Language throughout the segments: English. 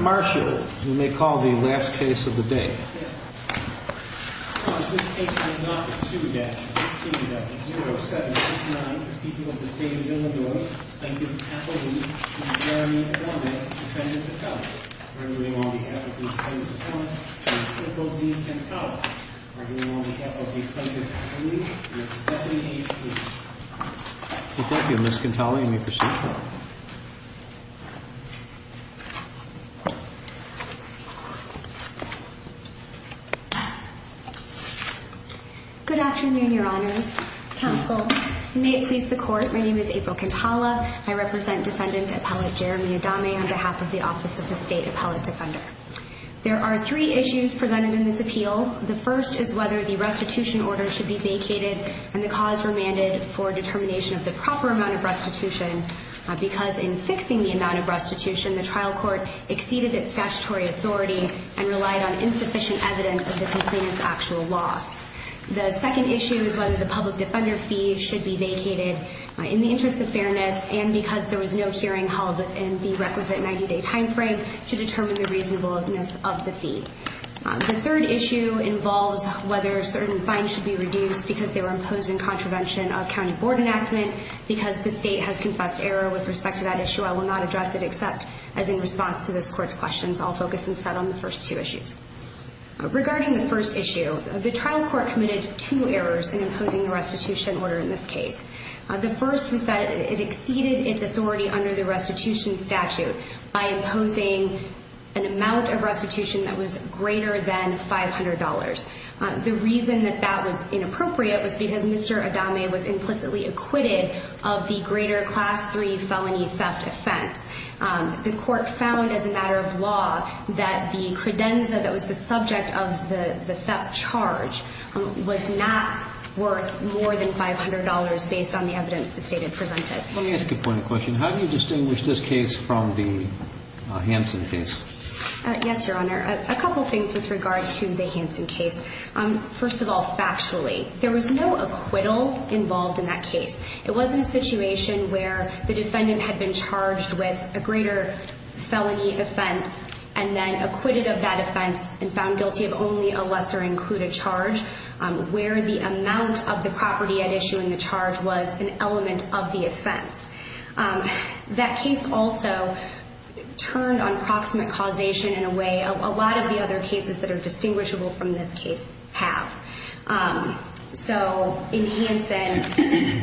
Marcia, you may call the last case of the day. Ms. Quintana, you may proceed to the floor. Good afternoon, Your Honors. Counsel, you may please the court. My name is April Quintana. I represent Defendant Appellate Jeremy Adame on behalf of the Office of the State Appellate Defender. There are three issues presented in this appeal. The first is whether the restitution order should be vacated and the cause remanded for determination of the proper amount of restitution because in fixing the amount of restitution the trial court exceeded its statutory authority and relied on insufficient evidence of the complainant's actual loss. The second issue is whether the public defender fee should be vacated in the interest of fairness and because there was no hearing held within the requisite 90-day timeframe to determine the reasonableness of the fee. The third issue involves whether certain fines should be reduced because they were imposed in contravention of county board enactment because the state has confessed error with respect to that issue. I will not address it except as in response to this court's questions. I'll focus instead on the first two issues. Regarding the first issue, the trial court committed two errors in imposing the restitution order in this case. The first was that it exceeded its authority under the restitution statute by imposing an amount of restitution that was greater than $500. The reason that that was inappropriate was because Mr. Adame was implicitly acquitted of the greater class 3 felony theft offense. The court found as a matter of law that the credenza that was the subject of the theft charge was not worth more than $500 based on the evidence the state had presented. Let me ask you a point of question. How do you distinguish this case from the Hansen case? Yes, your honor, a couple things with regard to the Hansen case. First of all, factually, there was no acquittal involved in that case. It wasn't a situation where the defendant had been charged with a greater felony offense and then acquitted of that offense and found guilty of only a lesser included charge where the amount of the property at issuing the charge was an element of the offense. That case also turned on proximate causation in a way a lot of the other cases that are distinguishable from this case have. So in Hansen,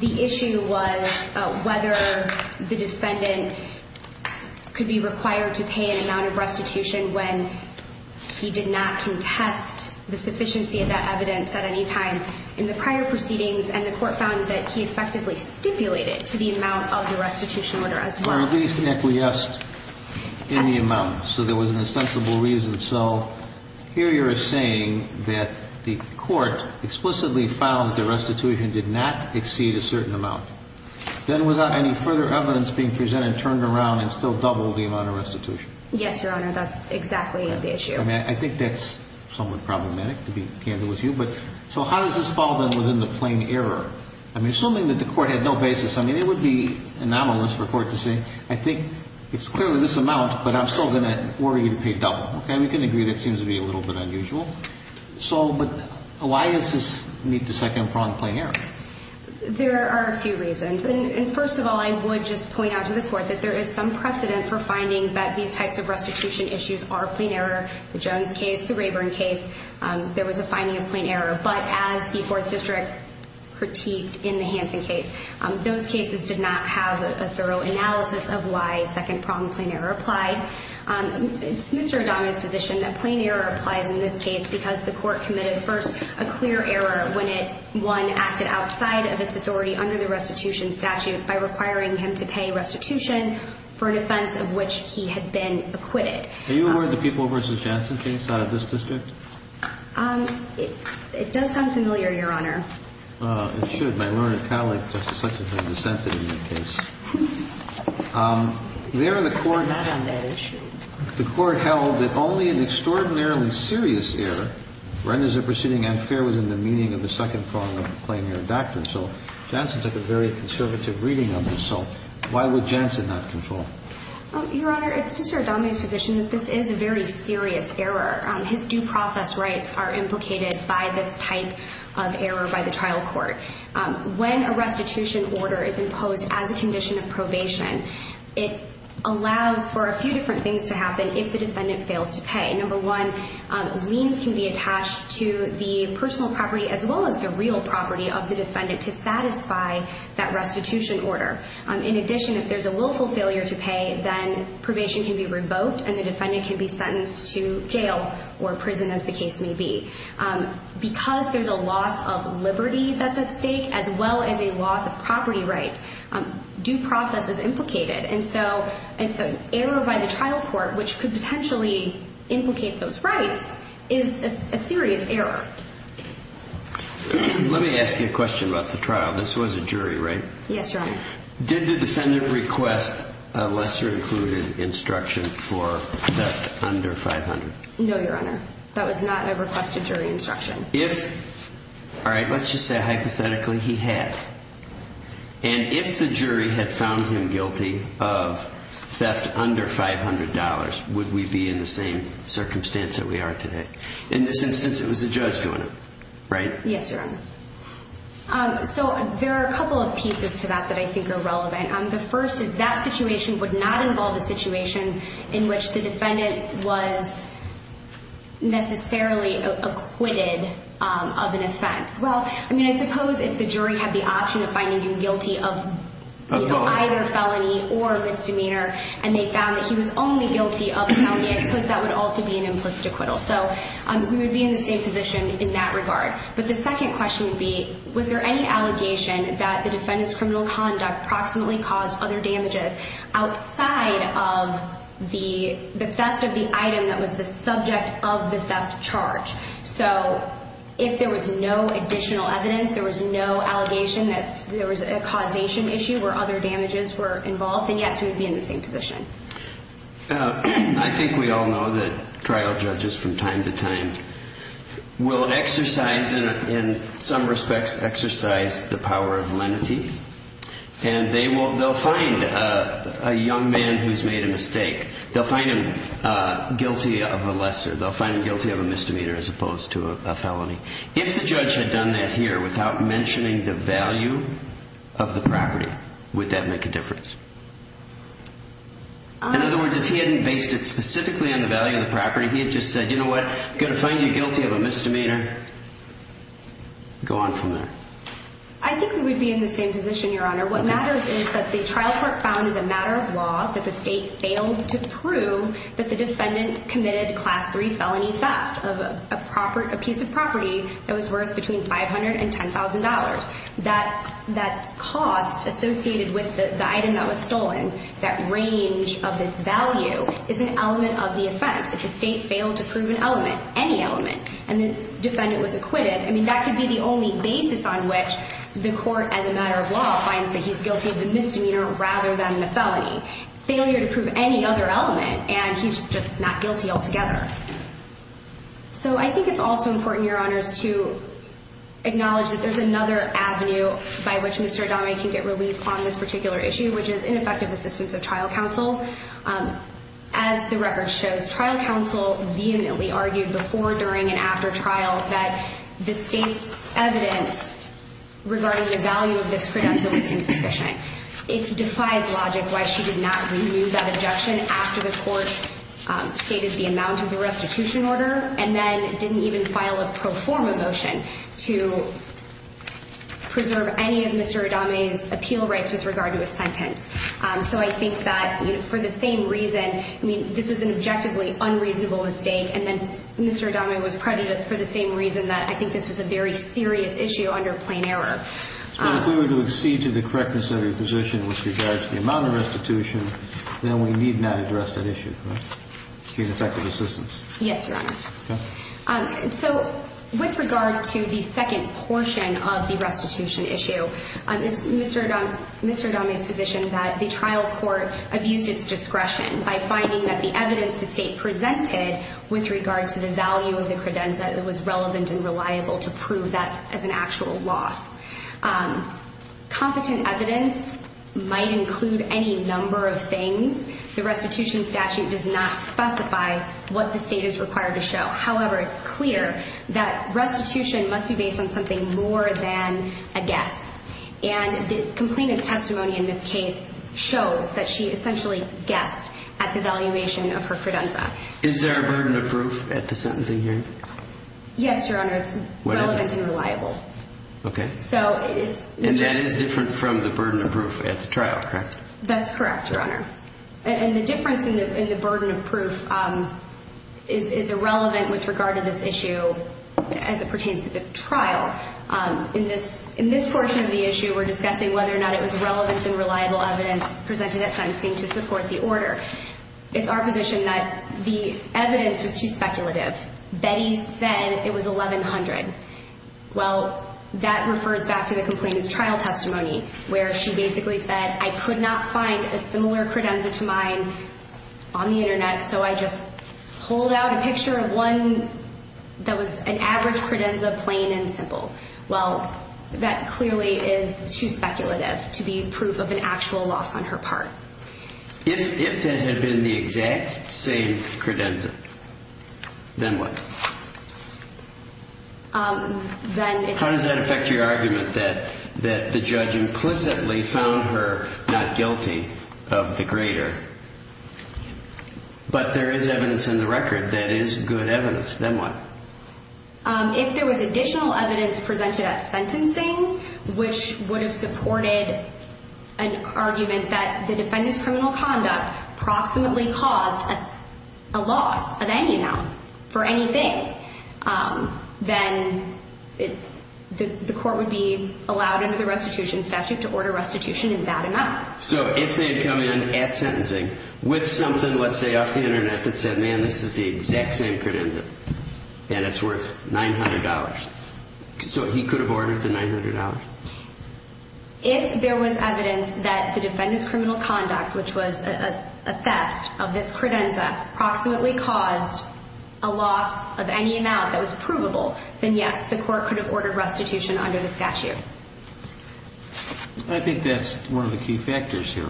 the issue was whether the defendant could be required to pay an amount of restitution when he did not contest the sufficiency of that evidence at any time in the prior proceedings. And the court found that he effectively stipulated to the amount of the restitution order as well. Or at least in the amount. So there was an ostensible reason. So here you're saying that the court explicitly found the restitution did not exceed a certain amount. Then without any further evidence being presented, turned around and still double the amount of restitution. Yes, your honor. That's exactly the issue. And I think that's somewhat problematic to be candid with you. But so how does this fall then within the plain error? I'm assuming that the court had no basis. I mean, it would be anomalous for court to say, I think it's clearly this amount, but I'm still going to order you to pay double. Okay, we can agree that seems to be a little bit unusual. So, but why does this meet the second prong plain error? There are a few reasons. And first of all, I would just point out to the court that there is some precedent for finding that these types of restitution issues are plain error. The Jones case, the Rayburn case. There was a finding of plain error. But as the fourth district critiqued in the Hansen case, those cases did not have a thorough analysis of why second prong plain error applied. It's Mr. Adami's position that plain error applies in this case because the court committed first a clear error when it, one, acted outside of its authority under the restitution statute by requiring him to pay restitution for an offense of which he had been acquitted. Are you aware of the People v. Jansen case out of this district? It does sound familiar, Your Honor. It should. My lawyer and colleague, Justice Sutton, has dissented in that case. There, the court held that only an extraordinarily serious error renders a proceeding unfair within the meaning of the second prong of a plain error doctrine. So, Jansen took a very conservative reading of this. So, why would Jansen not control? Your Honor, it's Mr. Adami's position that this is a very serious error. His due process rights are implicated by this type of error by the trial court. When a restitution order is imposed as a condition of probation, it allows for a few different things to happen if the defendant fails to pay. Number one, means can be attached to the personal property as well as the real property of the defendant to satisfy that restitution order. In addition, if there's a willful failure to pay, then probation can be revoked and the defendant can be sentenced to jail or prison as the case may be. Because there's a loss of liberty that's at stake, as well as a loss of property rights, due process is implicated. And so, error by the trial court, which could potentially implicate those rights, is a serious error. Let me ask you a question about the trial. This was a jury, right? Yes, Your Honor. Did the defendant request a lesser included instruction for theft under 500? No, Your Honor. That was not a requested jury instruction. If, all right, let's just say hypothetically he had. And if the jury had found him guilty of theft under $500, would we be in the same circumstance that we are today? In this instance, it was a judge doing it, right? Yes, Your Honor. So there are a couple of pieces to that that I think are relevant. The first is that situation would not involve a situation in which the defendant was necessarily acquitted of an offense. Well, I mean, I suppose if the jury had the option of finding him guilty of either felony or misdemeanor, and they found that he was only guilty of felony, I suppose that would also be an implicit acquittal. So we would be in the same position in that regard. But the second question would be, was there any allegation that the defendant's criminal conduct proximately caused other damages outside of the theft of the item that was the subject of the theft charge? So if there was no additional evidence, there was no allegation that there was a causation issue where other damages were involved, then yes, we would be in the same position. I think we all know that trial judges from time to time will exercise, in some respects, exercise the power of lenity, and they'll find a young man who's made a mistake. They'll find him guilty of a lesser. They'll find him guilty of a misdemeanor as opposed to a felony. If the judge had done that here without mentioning the value of the property, would that make a difference? In other words, if he hadn't based it specifically on the value of the property, he had just said, you know what, I'm going to find you guilty of a misdemeanor. Go on from there. I think we would be in the same position, Your Honor. What matters is that the trial court found as a matter of law that the state failed to prove that the defendant committed Class III felony theft of a piece of property that was worth between $500,000 and $10,000. That cost associated with the item that was stolen, that range of its value, is an element of the offense. If the state failed to prove an element, any element, and the defendant was acquitted, I mean, that could be the only basis on which the court, as a matter of law, finds that he's guilty of the misdemeanor rather than the felony. Failure to prove any other element, and he's just not guilty altogether. So I think it's also important, Your Honors, to acknowledge that there's another avenue by which Mr. Adame can get relief on this particular issue, which is ineffective assistance of trial counsel. As the record shows, trial counsel vehemently argued before, during, and after trial that the state's evidence regarding the value of this credential was insufficient. It defies logic why she did not renew that objection after the court stated the amount of the restitution order, and then didn't even file a pro forma motion to preserve any So I think that, you know, for the same reason, I mean, this was an objectively unreasonable mistake, and then Mr. Adame was prejudiced for the same reason that I think this was a very serious issue under plain error. But if we were to accede to the correctness of your position with regard to the amount of restitution, then we need not address that issue, right? Get effective assistance. Yes, Your Honor. So with regard to the second portion of the restitution issue, it's Mr. Adame's position that the trial court abused its discretion by finding that the evidence the state presented with regard to the value of the credenza that was relevant and reliable to prove that as an actual loss. Competent evidence might include any number of things. The restitution statute does not specify what the state is required to show. However, it's clear that restitution must be based on something more than a guess. And the complainant's testimony in this case shows that she essentially guessed at the valuation of her credenza. Is there a burden of proof at the sentencing hearing? Yes, Your Honor. It's relevant and reliable. Okay. So it's... And that is different from the burden of proof at the trial, correct? That's correct, Your Honor. And the difference in the burden of proof is irrelevant with regard to this issue as it pertains to the trial. In this portion of the issue, we're discussing whether or not it was relevant and reliable evidence presented at sentencing to support the order. It's our position that the evidence was too speculative. Betty said it was 1100. Well, that refers back to the complainant's trial testimony where she basically said, I could not find a similar credenza to mine on the Internet. So I just pulled out a picture of one that was an average credenza, plain and simple. Well, that clearly is too speculative to be proof of an actual loss on her part. If that had been the exact same credenza, then what? Then... How does that affect your argument that the judge implicitly found her not guilty of the greater? But there is evidence in the record that is good evidence. Then what? If there was additional evidence presented at sentencing, which would have supported an argument that the defendant's criminal conduct approximately caused a loss of any amount for anything, then the court would be allowed under the restitution statute to order restitution in that amount. So if they had come in at sentencing with something, let's say off the Internet, that said, man, this is the exact same credenza. And it's worth $900. So he could have ordered the $900. If there was evidence that the defendant's criminal conduct, which was a fact of this credenza, approximately caused a loss of any amount that was provable, then yes, the court could have ordered restitution under the statute. I think that's one of the key factors here.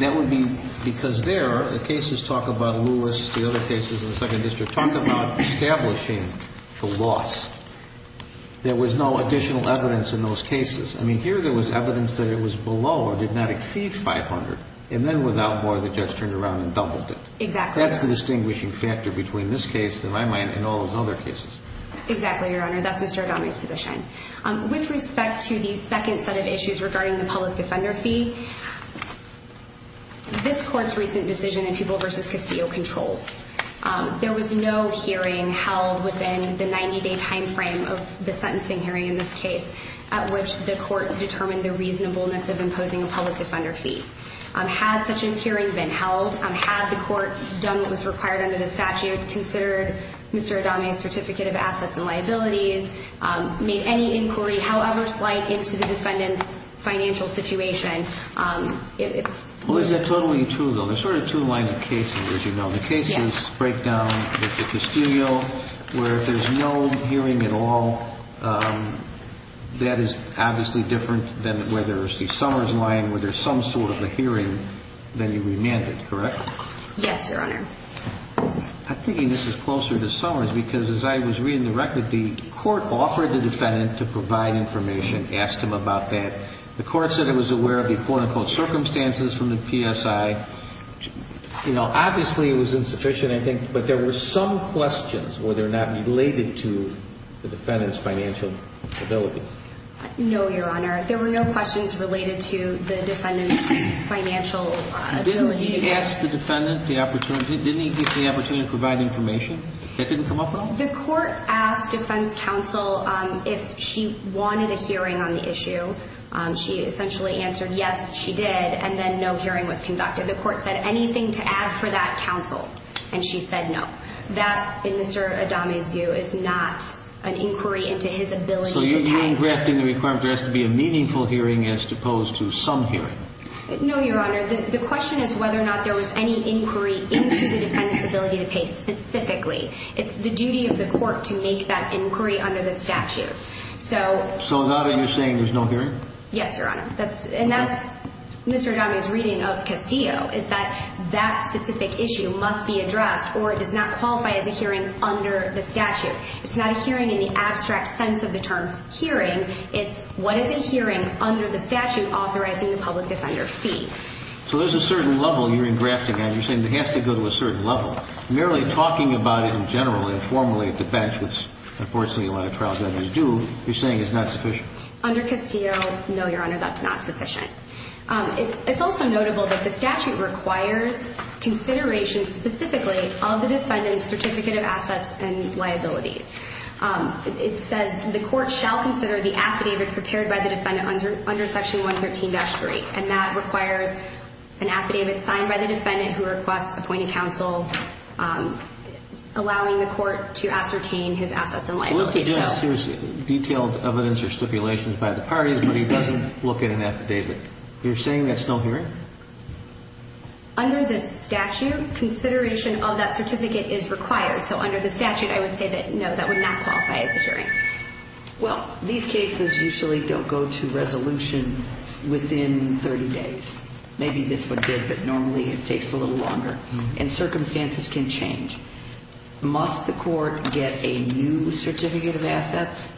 That would be because there are the cases talk about Lewis, the other cases in the second district talk about establishing the loss. There was no additional evidence in those cases. I mean here there was evidence that it was below or did not exceed 500 and then without more the judge turned around and doubled it. Exactly. That's the distinguishing factor between this case and my mind and all those other cases. Exactly, Your Honor. That's Mr. Adami's position. With respect to the second set of issues regarding the public defender fee, this court's recent decision in Pupil v. Castillo controls. There was no hearing held within the 90-day timeframe of the sentencing hearing in this case at which the court determined the reasonableness of imposing a public defender fee. Had such an hearing been held, had the court done what was required under the statute, considered Mr. Adami's certificate of assets and liabilities, made any inquiry, however slight, into the defendant's financial situation. Well, is that totally true though? There's sort of two lines of cases, as you know. The case's breakdown with the Castillo where if there's no hearing at all, that is obviously different than where there's the Summers line where there's some sort of a hearing, then you remand it, correct? Yes, Your Honor. I'm thinking this is closer to Summers because as I was reading the record, the court offered the defendant to provide information, asked him about that. The court said it was aware of the quote-unquote circumstances from the PSI. You know, obviously it was insufficient, I think, but there were some questions where they're not related to the defendant's financial ability. No, Your Honor. There were no questions related to the defendant's financial ability. Didn't he ask the defendant the opportunity, didn't he give the opportunity to provide information? That didn't come up at all? The court asked defense counsel if she wanted a hearing on the issue. She essentially answered yes, she did, and then no hearing was conducted. The court said anything to add for that counsel, and she said no. That, in Mr. Adame's view, is not an inquiry into his ability to pay. So you're engrafting the requirement there has to be a meaningful hearing as opposed to some hearing? No, Your Honor. The question is whether or not there was any inquiry into the defendant's ability to pay specifically. It's the duty of the court to make that inquiry under the statute. So... So now that you're saying there's no hearing? Yes, Your Honor. And that's Mr. Adame's reading of Castillo, is that that specific issue must be addressed or it does not qualify as a hearing under the statute. It's not a hearing in the abstract sense of the term hearing. It's what is a hearing under the statute authorizing the public defender fee. So there's a certain level you're engrafting on. You're saying it has to go to a certain level. Merely talking about it in general and formally at the bench, which unfortunately a lot of trial judges do, you're saying it's not sufficient? Under Castillo, no, Your Honor, that's not sufficient. It's also notable that the statute requires consideration specifically of the defendant's certificate of assets and liabilities. It says the court shall consider the affidavit prepared by the defendant under section 113-3 and that requires an affidavit signed by the defendant who requests appointing counsel, allowing the court to ascertain his assets and liabilities. Detailed evidence or stipulations by the parties, but he doesn't look at an affidavit. You're saying that's no hearing? Under the statute, consideration of that certificate is required. So under the statute, I would say that no, that would not qualify as a hearing. Well, these cases usually don't go to resolution within 30 days. Maybe this would fit, but normally it takes a little longer and circumstances can change. Must the court get a new certificate of assets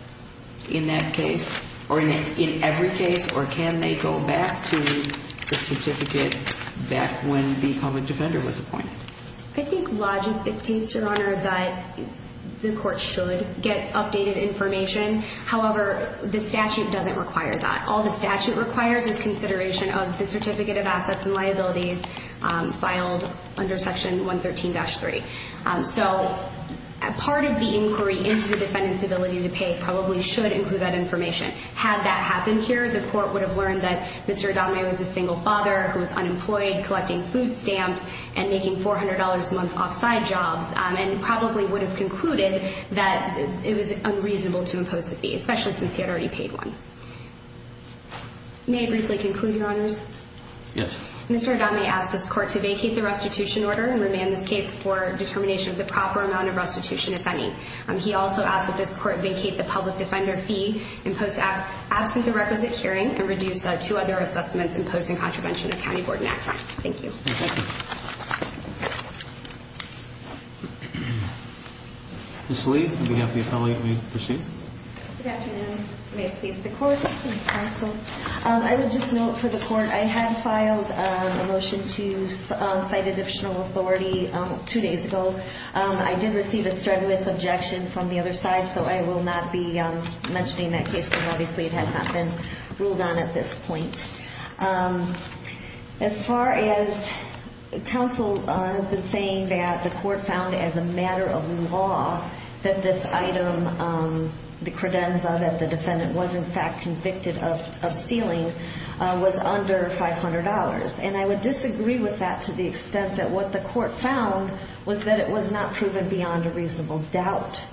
in that case or in every case or can they go back to the certificate back when the public defender was appointed? I think logic dictates, Your Honor, that the court should get updated information. However, the statute doesn't require that. All the statute requires is consideration of the certificate of assets and liabilities filed under section 113-3. So part of the inquiry into the defendant's ability to pay probably should include that information. Had that happened here, the court would have learned that Mr. Adame was a single father who was unemployed collecting food stamps and making $400 a month off side jobs and probably would have concluded that it was unreasonable to impose the fee, especially since he had already paid one. May I briefly conclude, Your Honors? Yes. Mr. Adame asked this court to vacate the restitution order and remand this case for determination of the proper amount of restitution, if any. He also asked that this court vacate the public defender fee and post absent the requisite hearing and reduce two other assessments imposed in contravention of County Board Act. Thank you. Ms. Lee, on behalf of the appellee, may we proceed? Good afternoon. May it please the court and counsel. I would just note for the court, I had filed a motion to cite additional authority two days ago. I did receive a strenuous objection from the other side, so I will not be mentioning that case because obviously it has not been ruled on at this point. As far as counsel has been saying that the court found as a matter of law that this item, the credenza that the defendant was in fact convicted of stealing, was under $500. And I would disagree with that to the extent that what the court found was that it was not proven beyond a reasonable doubt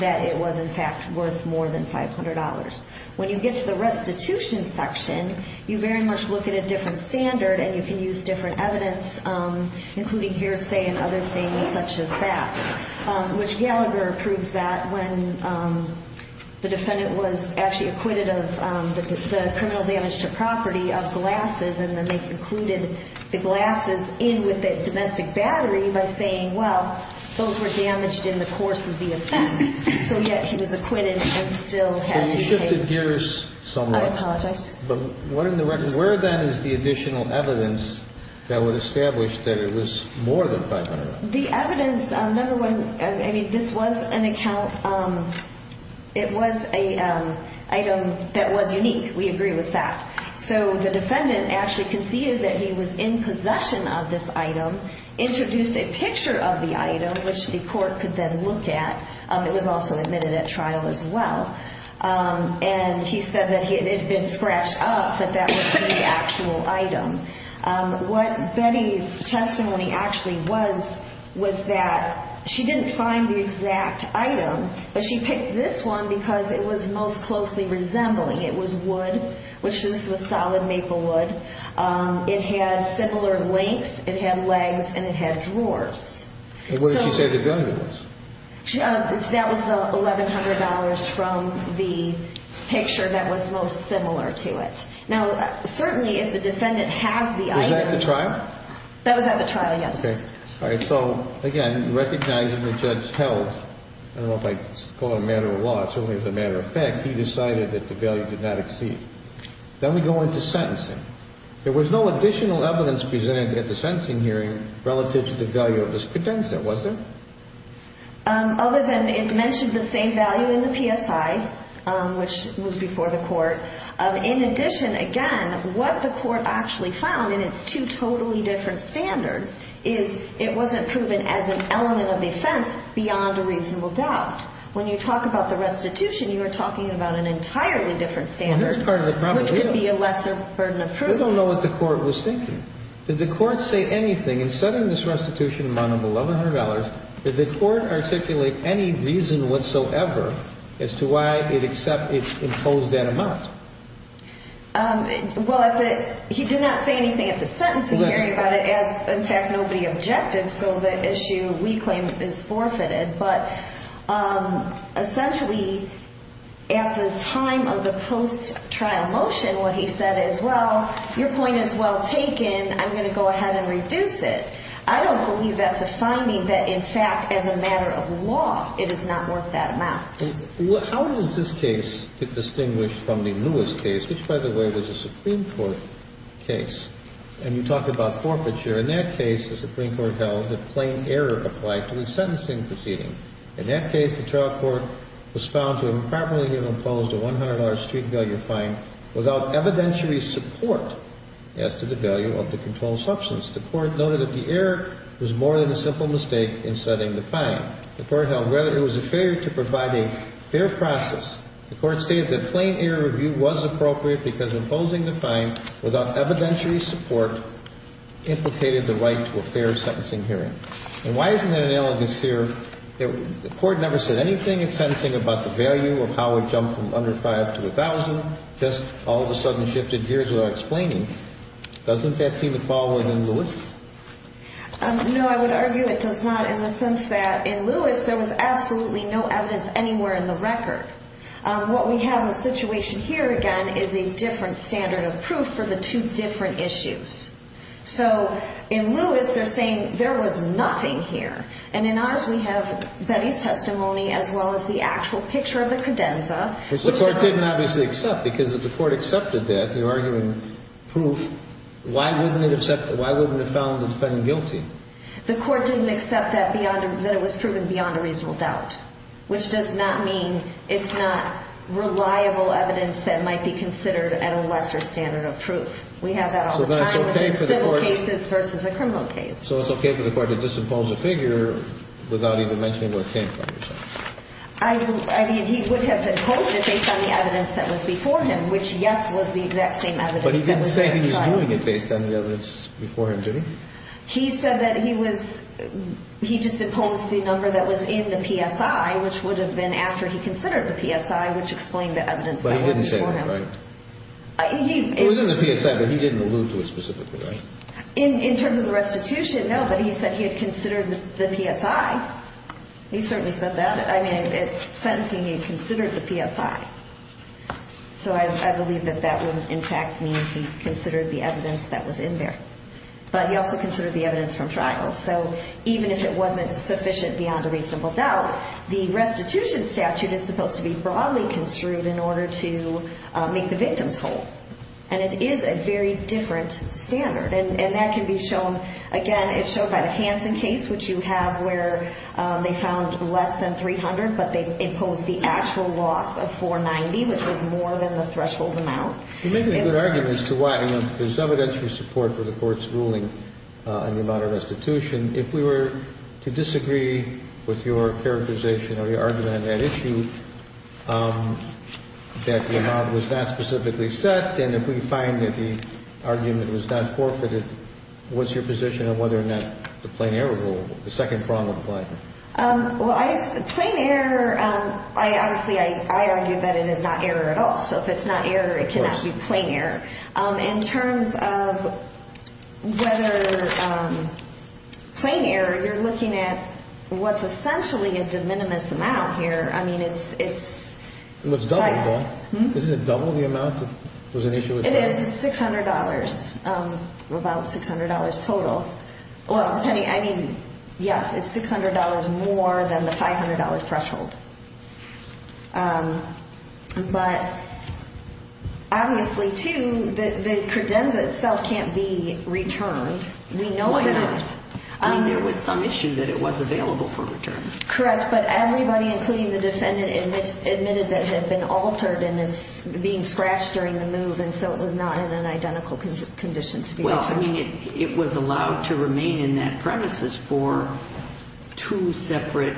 that it was in fact worth more than $500. When you get to the restitution section, you very much look at a different standard and you can use different evidence, including hearsay and other things such as that, which Gallagher proves that when the defendant was actually acquitted of the $500, and they concluded the glasses in with the domestic battery by saying, well, those were damaged in the course of the offense. So yet he was acquitted and still had to pay. But you shifted gears somewhat. I apologize. But what in the record, where then is the additional evidence that would establish that it was more than $500? The evidence, number one, I mean, this was an account, it was an item that was unique. We agree with that. So the defendant actually conceded that he was in possession of this item, introduced a picture of the item, which the court could then look at. It was also admitted at trial as well. And he said that it had been scratched up, but that was the actual item. What Betty's testimony actually was, was that she didn't find the exact item, but she picked this one because it was most closely resembling. It was wood, which this was solid maple wood. It had similar length. It had legs and it had drawers. What did she say the value was? That was the $1,100 from the picture that was most similar to it. Now, certainly, if the defendant has the item. Was that at the trial? That was at the trial, yes. Okay. All right. So again, recognizing the judge held, I don't know if I call it a matter of law, it's only as a matter of fact, he decided that the value did not exceed. Then we go into sentencing. There was no additional evidence presented at the sentencing hearing relative to the value of this credential, was there? Other than it mentioned the same value in the PSI, which was before the court. In addition, again, what the court actually found, and it's two totally different standards, is it wasn't proven as an element of the offense beyond a reasonable doubt. When you talk about the restitution, you are talking about an entirely different standard, which could be a lesser burden of proof. I don't know what the court was thinking. Did the court say anything in setting this restitution amount of $1,100? Did the court articulate any reason whatsoever as to why it except it imposed that amount? Well, he did not say anything at the sentencing hearing about it, as in fact, nobody objected. So the issue we claim is forfeited. But essentially, at the time of the post-trial motion, what he said is, well, your point is well taken. I'm going to go ahead and reduce it. I don't believe that's a finding that, in fact, as a matter of law, it is not worth that amount. Well, how does this case get distinguished from the Lewis case, which, by the way, was a Supreme Court case, and you talk about forfeiture. In that case, the Supreme Court held that plain error applied to the sentencing proceeding. In that case, the trial court was found to improperly have imposed a $100 street value fine without evidentiary support as to the value of the controlled substance. The court noted that the error was more than a simple mistake in setting the fine. The court held whether it was a failure to provide a fair process. The court stated that plain error review was appropriate because imposing the fine without evidentiary support implicated the right to a fair sentencing hearing. And why isn't it analogous here that the court never said anything in sentencing about the value of how it jumped from under $5,000 to $1,000, just all of a sudden shifted gears without explaining? Doesn't that seem to fall within Lewis? No, I would argue it does not in the sense that in Lewis, there was absolutely no evidence anywhere in the record. What we have in the situation here, again, is a different standard of proof for the two different issues. So in Lewis, they're saying there was nothing here. And in ours, we have Betty's testimony as well as the actual picture of the credenza. Which the court didn't obviously accept because if the court accepted that, you're arguing proof. Why wouldn't it accept it? Why wouldn't it have found the defendant guilty? The court didn't accept that it was proven beyond a reasonable doubt, which does not mean it's not reliable evidence that might be considered at a lesser standard of proof. We have that all the time in civil cases versus a criminal case. So it's okay for the court to disimpose the figure without even mentioning what it came from? I mean, he would have imposed it based on the evidence that was before him, which, yes, was the exact same evidence. But he didn't say he was doing it based on the evidence before him, did he? He said that he was, he just imposed the number that was in the PSI, which would have been after he considered the PSI, which explained the evidence that was before him. But he didn't say that, right? It was in the PSI, but he didn't allude to it specifically, right? In terms of the restitution, no, but he said he had considered the PSI. He certainly said that. I mean, in sentencing, he considered the PSI. So I believe that that would, in fact, mean he considered the evidence that was in there, but he also considered the evidence from trial. So even if it wasn't sufficient beyond a reasonable doubt, the restitution statute is supposed to be broadly construed in order to make the victims whole. And it is a very different standard. And that can be shown, again, it's shown by the Hansen case, which you have where they found less than 300, but they imposed the actual loss of 490, which was more than the threshold amount. You make a good argument as to why there's evidential support for the court's ruling on the amount of restitution. If we were to disagree with your characterization or your argument on that issue, that the amount was not specifically set, and if we find that the argument was not forfeited, what's your position on whether or not the plain error rule, the second prong of the plight? Well, plain error, I obviously, I argue that it is not error at all. So if it's not error, it cannot be plain error. In terms of whether plain error, you're looking at what's essentially a de minimis amount here. I mean, it's double the amount that was initially. It is $600, about $600 total. Well, depending. I mean, yeah, it's $600 more than the $500 threshold, but obviously, too, the credenza itself can't be returned. We know that. There was some issue that it was available for return. Correct. But everybody, including the defendant, admitted that had been altered and it's being scratched during the move. And so it was not in an identical condition to be returned. Well, I mean, it was allowed to remain in that premises for two separate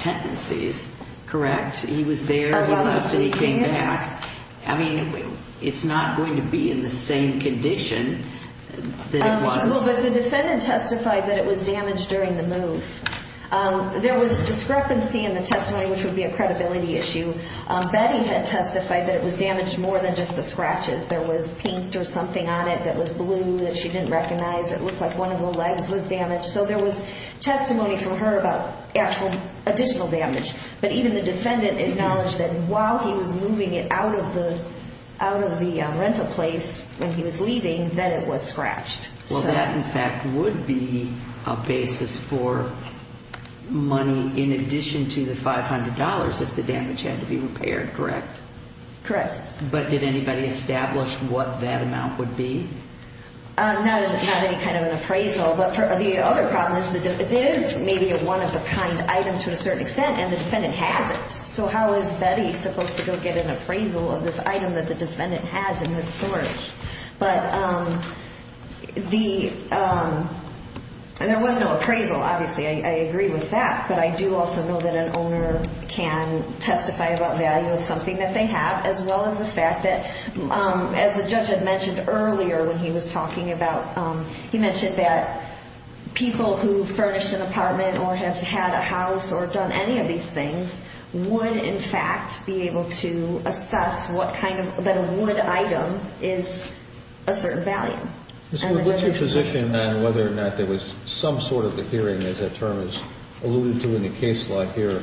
tendencies. Correct? He was there, he left, and he came back. I mean, it's not going to be in the same condition that it was. But the defendant testified that it was damaged during the move. There was discrepancy in the testimony, which would be a credibility issue. Betty had testified that it was damaged more than just the scratches. There was paint or something on it that was blue that she didn't recognize. It looked like one of the legs was damaged. So there was testimony from her about actual additional damage. But even the defendant acknowledged that while he was moving it out of the rental place when he was leaving, that it was scratched. Well, that, in fact, would be a basis for money in addition to the $500 if the damage had to be repaired, correct? Correct. But did anybody establish what that amount would be? Not any kind of an appraisal. But the other problem is that it is maybe a one-of-a-kind item to a certain extent, and the defendant has it. So how is Betty supposed to go get an appraisal of this item that the defendant has in his storage? But there was no appraisal, obviously. I agree with that. But I do also know that an owner can testify about value of something that they have, as well as the fact that, as the judge had mentioned earlier when he was talking about, he mentioned that people who furnished an apartment or have had a house or done any of these things would, in fact, be able to assess what kind of, that a wood item is a certain value. Ms. Wood, what's your position on whether or not there was some sort of a hearing, as that term is alluded to in the case law here,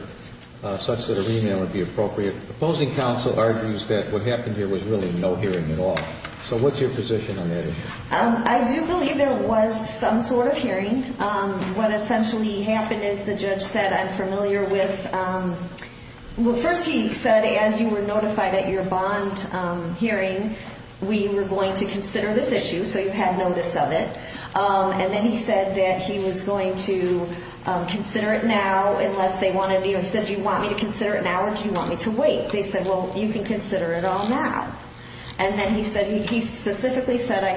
such that a remand would be appropriate? Opposing counsel argues that what happened here was really no hearing at all. So what's your position on that issue? I do believe there was some sort of hearing. What essentially happened is the judge said, I'm familiar with, well, first he said, as you were notified at your bond hearing, we were going to consider this issue. So you had notice of it. And then he said that he was going to consider it now unless they wanted, you know, he said, do you want me to consider it now or do you want me to wait? They said, well, you can consider it all now. And then he said, he specifically said, I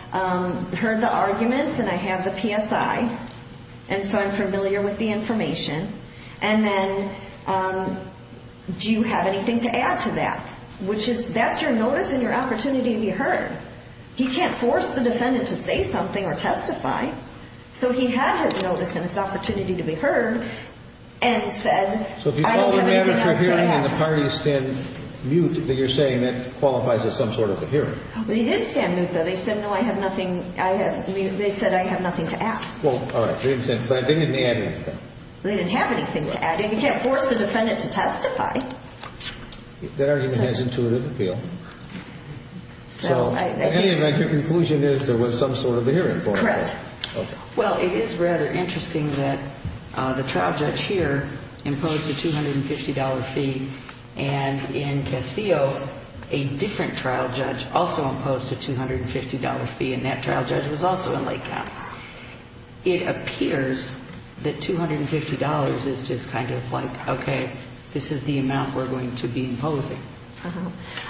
have heard the arguments and I have the PSI. And so I'm familiar with the information. And then, do you have anything to add to that? Which is, that's your notice and your opportunity to be heard. He can't force the defendant to say something or testify. So he had his notice and his opportunity to be heard and said, I don't have anything else to add. So if you call a remand for a hearing and the parties stand mute, then you're saying that qualifies as some sort of a hearing. Well, he did stand mute though. Well, all right. They didn't add anything. They didn't have anything to add. And you can't force the defendant to testify. That argument has intuitive appeal. So, anyway, your conclusion is there was some sort of a hearing. Correct. Well, it is rather interesting that the trial judge here imposed a $250 fee. And in Castillo, a different trial judge also imposed a $250 fee. And that trial judge was also in Lake County. It appears that $250 is just kind of like, okay, this is the amount we're going to be imposing.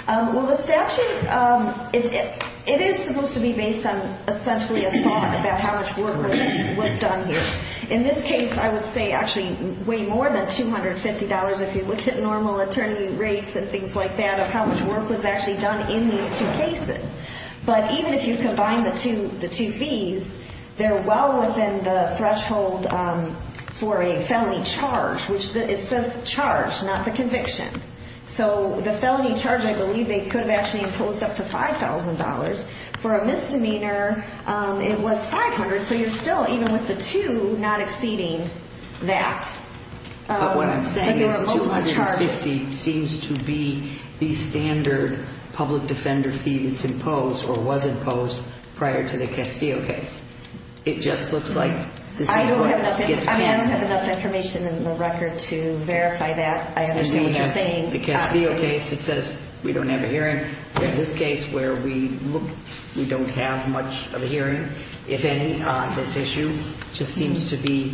Well, the statute, it is supposed to be based on essentially a thought about how much work was done here. In this case, I would say actually way more than $250 if you look at normal attorney rates and things like that, of how much work was actually done in these two cases. But even if you combine the two fees, they're well within the threshold for a felony charge, which it says charge, not the conviction. So the felony charge, I believe they could have actually imposed up to $5,000. For a misdemeanor, it was $500. So you're still, even with the two, not exceeding that. But what I'm saying is $250 seems to be the standard public impose or was imposed prior to the Castillo case. It just looks like this is where it gets clear. I don't have enough information in the record to verify that. I understand what you're saying. The Castillo case, it says we don't have a hearing. In this case where we look, we don't have much of a hearing, if any, on this issue, just seems to be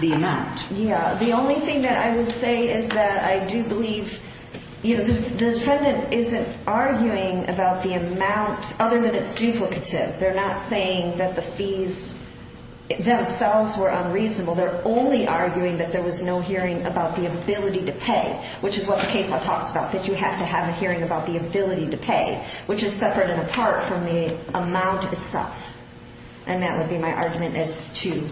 the amount. Yeah. The only thing that I would say is that I do believe, you know, the defendant isn't arguing about the amount other than it's duplicative. They're not saying that the fees themselves were unreasonable. They're only arguing that there was no hearing about the ability to pay, which is what the case law talks about, that you have to have a hearing about the ability to pay, which is separate and apart from the amount itself. And that would be my argument as to,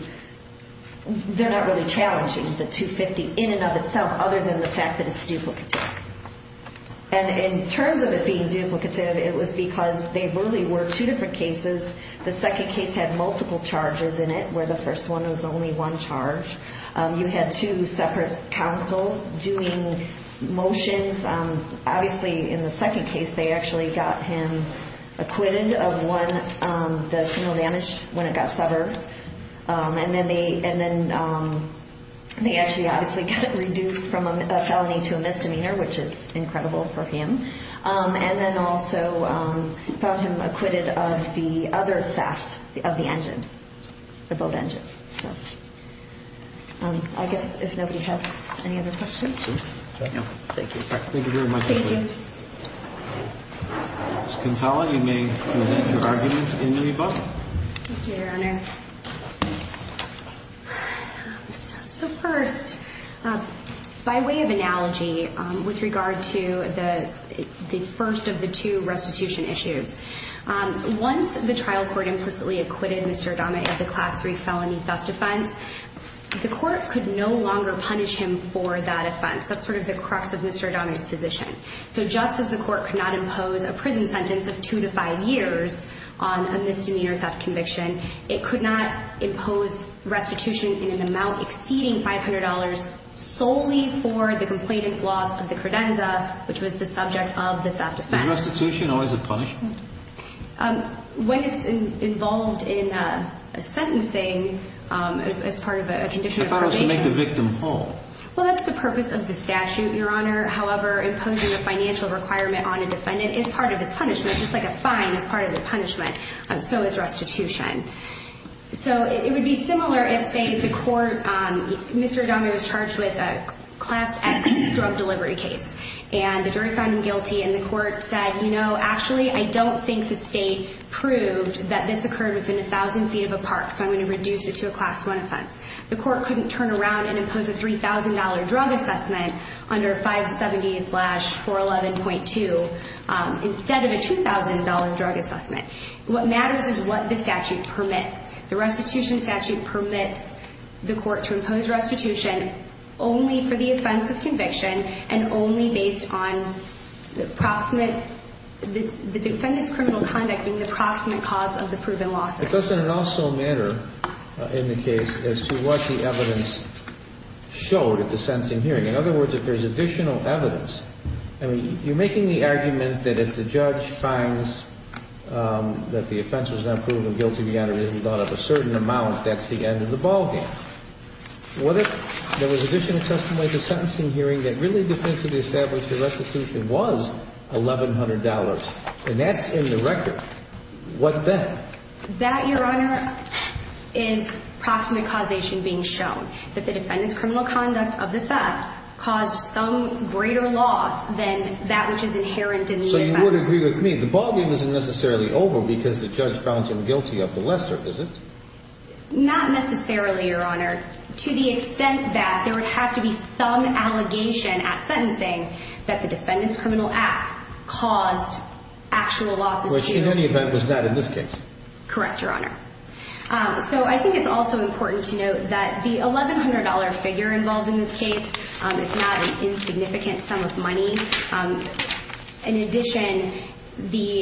they're not really challenging the $250 in and of itself, other than the fact that it's duplicative. And in terms of it being duplicative, it was because they really were two different cases. The second case had multiple charges in it, where the first one was only one charge. You had two separate counsel doing motions. Obviously, in the second case, they actually got him acquitted of one, the criminal damage when it got severed. And then they actually obviously got reduced from a felony to a misdemeanor, which is incredible for him. And then also got him acquitted of the other theft of the engine, the boat engine. I guess if nobody has any other questions. Thank you. Thank you very much. Ms. Contella, you may present your argument in any book. Thank you, Your Honors. So first, by way of analogy, with regard to the first of the two restitution issues, once the trial court implicitly acquitted Mr. Adame of the Class III felony theft offense, the court could no longer punish him for that offense. That's sort of the crux of Mr. Adame's position. So just as the court could not impose a prison sentence of two to five years on a misdemeanor theft conviction, it could not impose restitution in an amount exceeding $500 solely for the complainant's loss of the credenza, which was the subject of the theft offense. Is restitution always a punishment? When it's involved in sentencing as part of a condition of probation. I thought it was to make the victim whole. Well, that's the purpose of the statute, Your Honor. However, imposing a financial requirement on a defendant is part of his punishment, so is restitution. So it would be similar if, say, the court, Mr. Adame was charged with a Class X drug delivery case, and the jury found him guilty, and the court said, you know, actually, I don't think the state proved that this occurred within 1,000 feet of a park, so I'm going to reduce it to a Class I offense. The court couldn't turn around and impose a $3,000 drug assessment under 570-411.2 instead of a $2,000 drug assessment. What matters is what the statute permits. The restitution statute permits the court to impose restitution only for the offense of conviction and only based on the defendant's criminal conduct being the proximate cause of the proven loss. But doesn't it also matter in the case as to what the evidence showed at the sentencing hearing? In other words, if there's additional evidence, I mean, you're making the argument that if the judge finds that the offense was not proven guilty, the honor isn't brought up a certain amount, that's the end of the ballgame. What if there was additional testimony at the sentencing hearing that really defensively established the restitution was $1,100, and that's in the record? What then? That, Your Honor, is proximate causation being shown, that the defendant's criminal act caused some greater loss than that which is inherent in the offense. So you would agree with me, the ballgame isn't necessarily over because the judge found him guilty of the lesser, is it? Not necessarily, Your Honor. To the extent that there would have to be some allegation at sentencing that the defendant's criminal act caused actual losses, too. Which in any event was not in this case. Correct, Your Honor. So I think it's also important to note that the $1,100 figure involved in this case is not an insignificant sum of money. In addition, the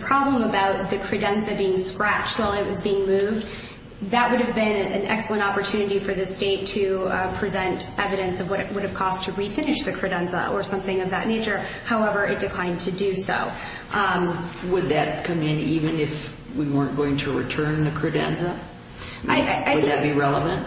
problem about the credenza being scratched while it was being moved, that would have been an excellent opportunity for the state to present evidence of what it would have cost to refinish the credenza or something of that nature. However, it declined to do so. Would that come in even if we weren't going to return the credenza? Would that be relevant?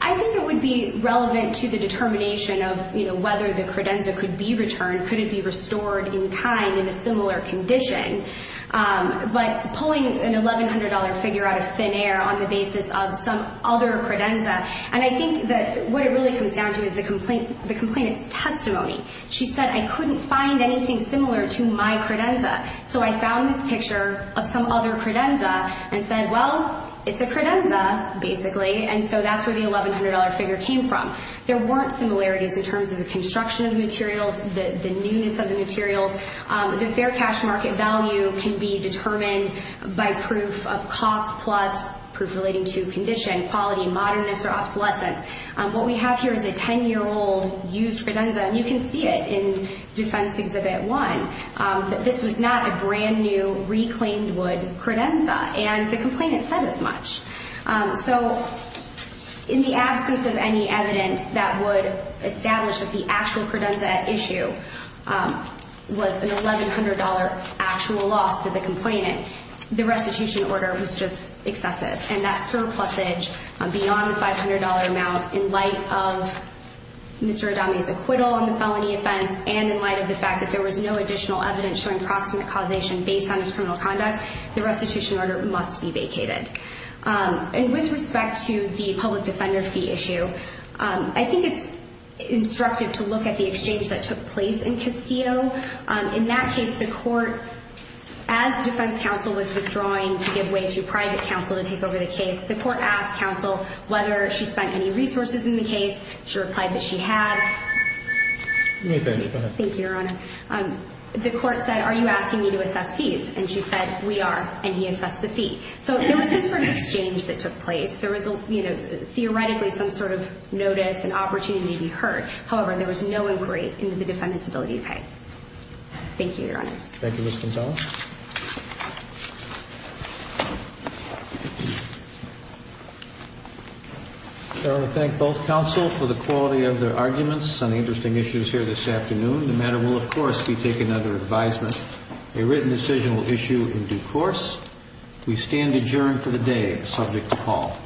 I think it would be relevant to the determination of whether the credenza could be returned, could it be restored in kind in a similar condition. But pulling an $1,100 figure out of thin air on the basis of some other credenza, and I think that what it really comes down to is the complainant's testimony. She said, I couldn't find anything similar to my credenza. So I found this picture of some other credenza and said, well, it's a credenza, basically. And so that's where the $1,100 figure came from. There weren't similarities in terms of the construction of the materials, the newness of the materials. The fair cash market value can be determined by proof of cost plus proof relating to condition, quality, modernness, or obsolescence. What we have here is a 10-year-old used credenza, and you can see it in Defense Exhibit 1. This was not a brand-new reclaimed wood credenza. And the complainant said as much. So in the absence of any evidence that would establish that the actual credenza at issue was an $1,100 actual loss to the complainant, the restitution order was just excessive. And that surplusage beyond the $500 amount in light of Mr. Adami's acquittal on the felony offense and in light of the fact that there was no additional evidence showing proximate causation based on his criminal conduct, the restitution order must be vacated. And with respect to the public defender fee issue, I think it's instructive to look at the exchange that took place in Castillo. In that case, the court, as defense counsel was withdrawing to give way to private counsel to take over the case, the court asked counsel whether she spent any resources in the case. She replied that she had. Thank you, Your Honor. The court said, are you asking me to assess fees? And she said, we are. And he assessed the fee. So there was some sort of exchange that took place. There was, you know, theoretically some sort of notice and opportunity to be heard. However, there was no inquiry into the defendant's ability to pay. Thank you, Your Honors. Thank you, Ms. Gonzalez. I want to thank both counsel for the quality of their arguments on the interesting issues here this afternoon. The matter will, of course, be taken under advisement. A written decision will issue in due course. We stand adjourned for the day subject to call.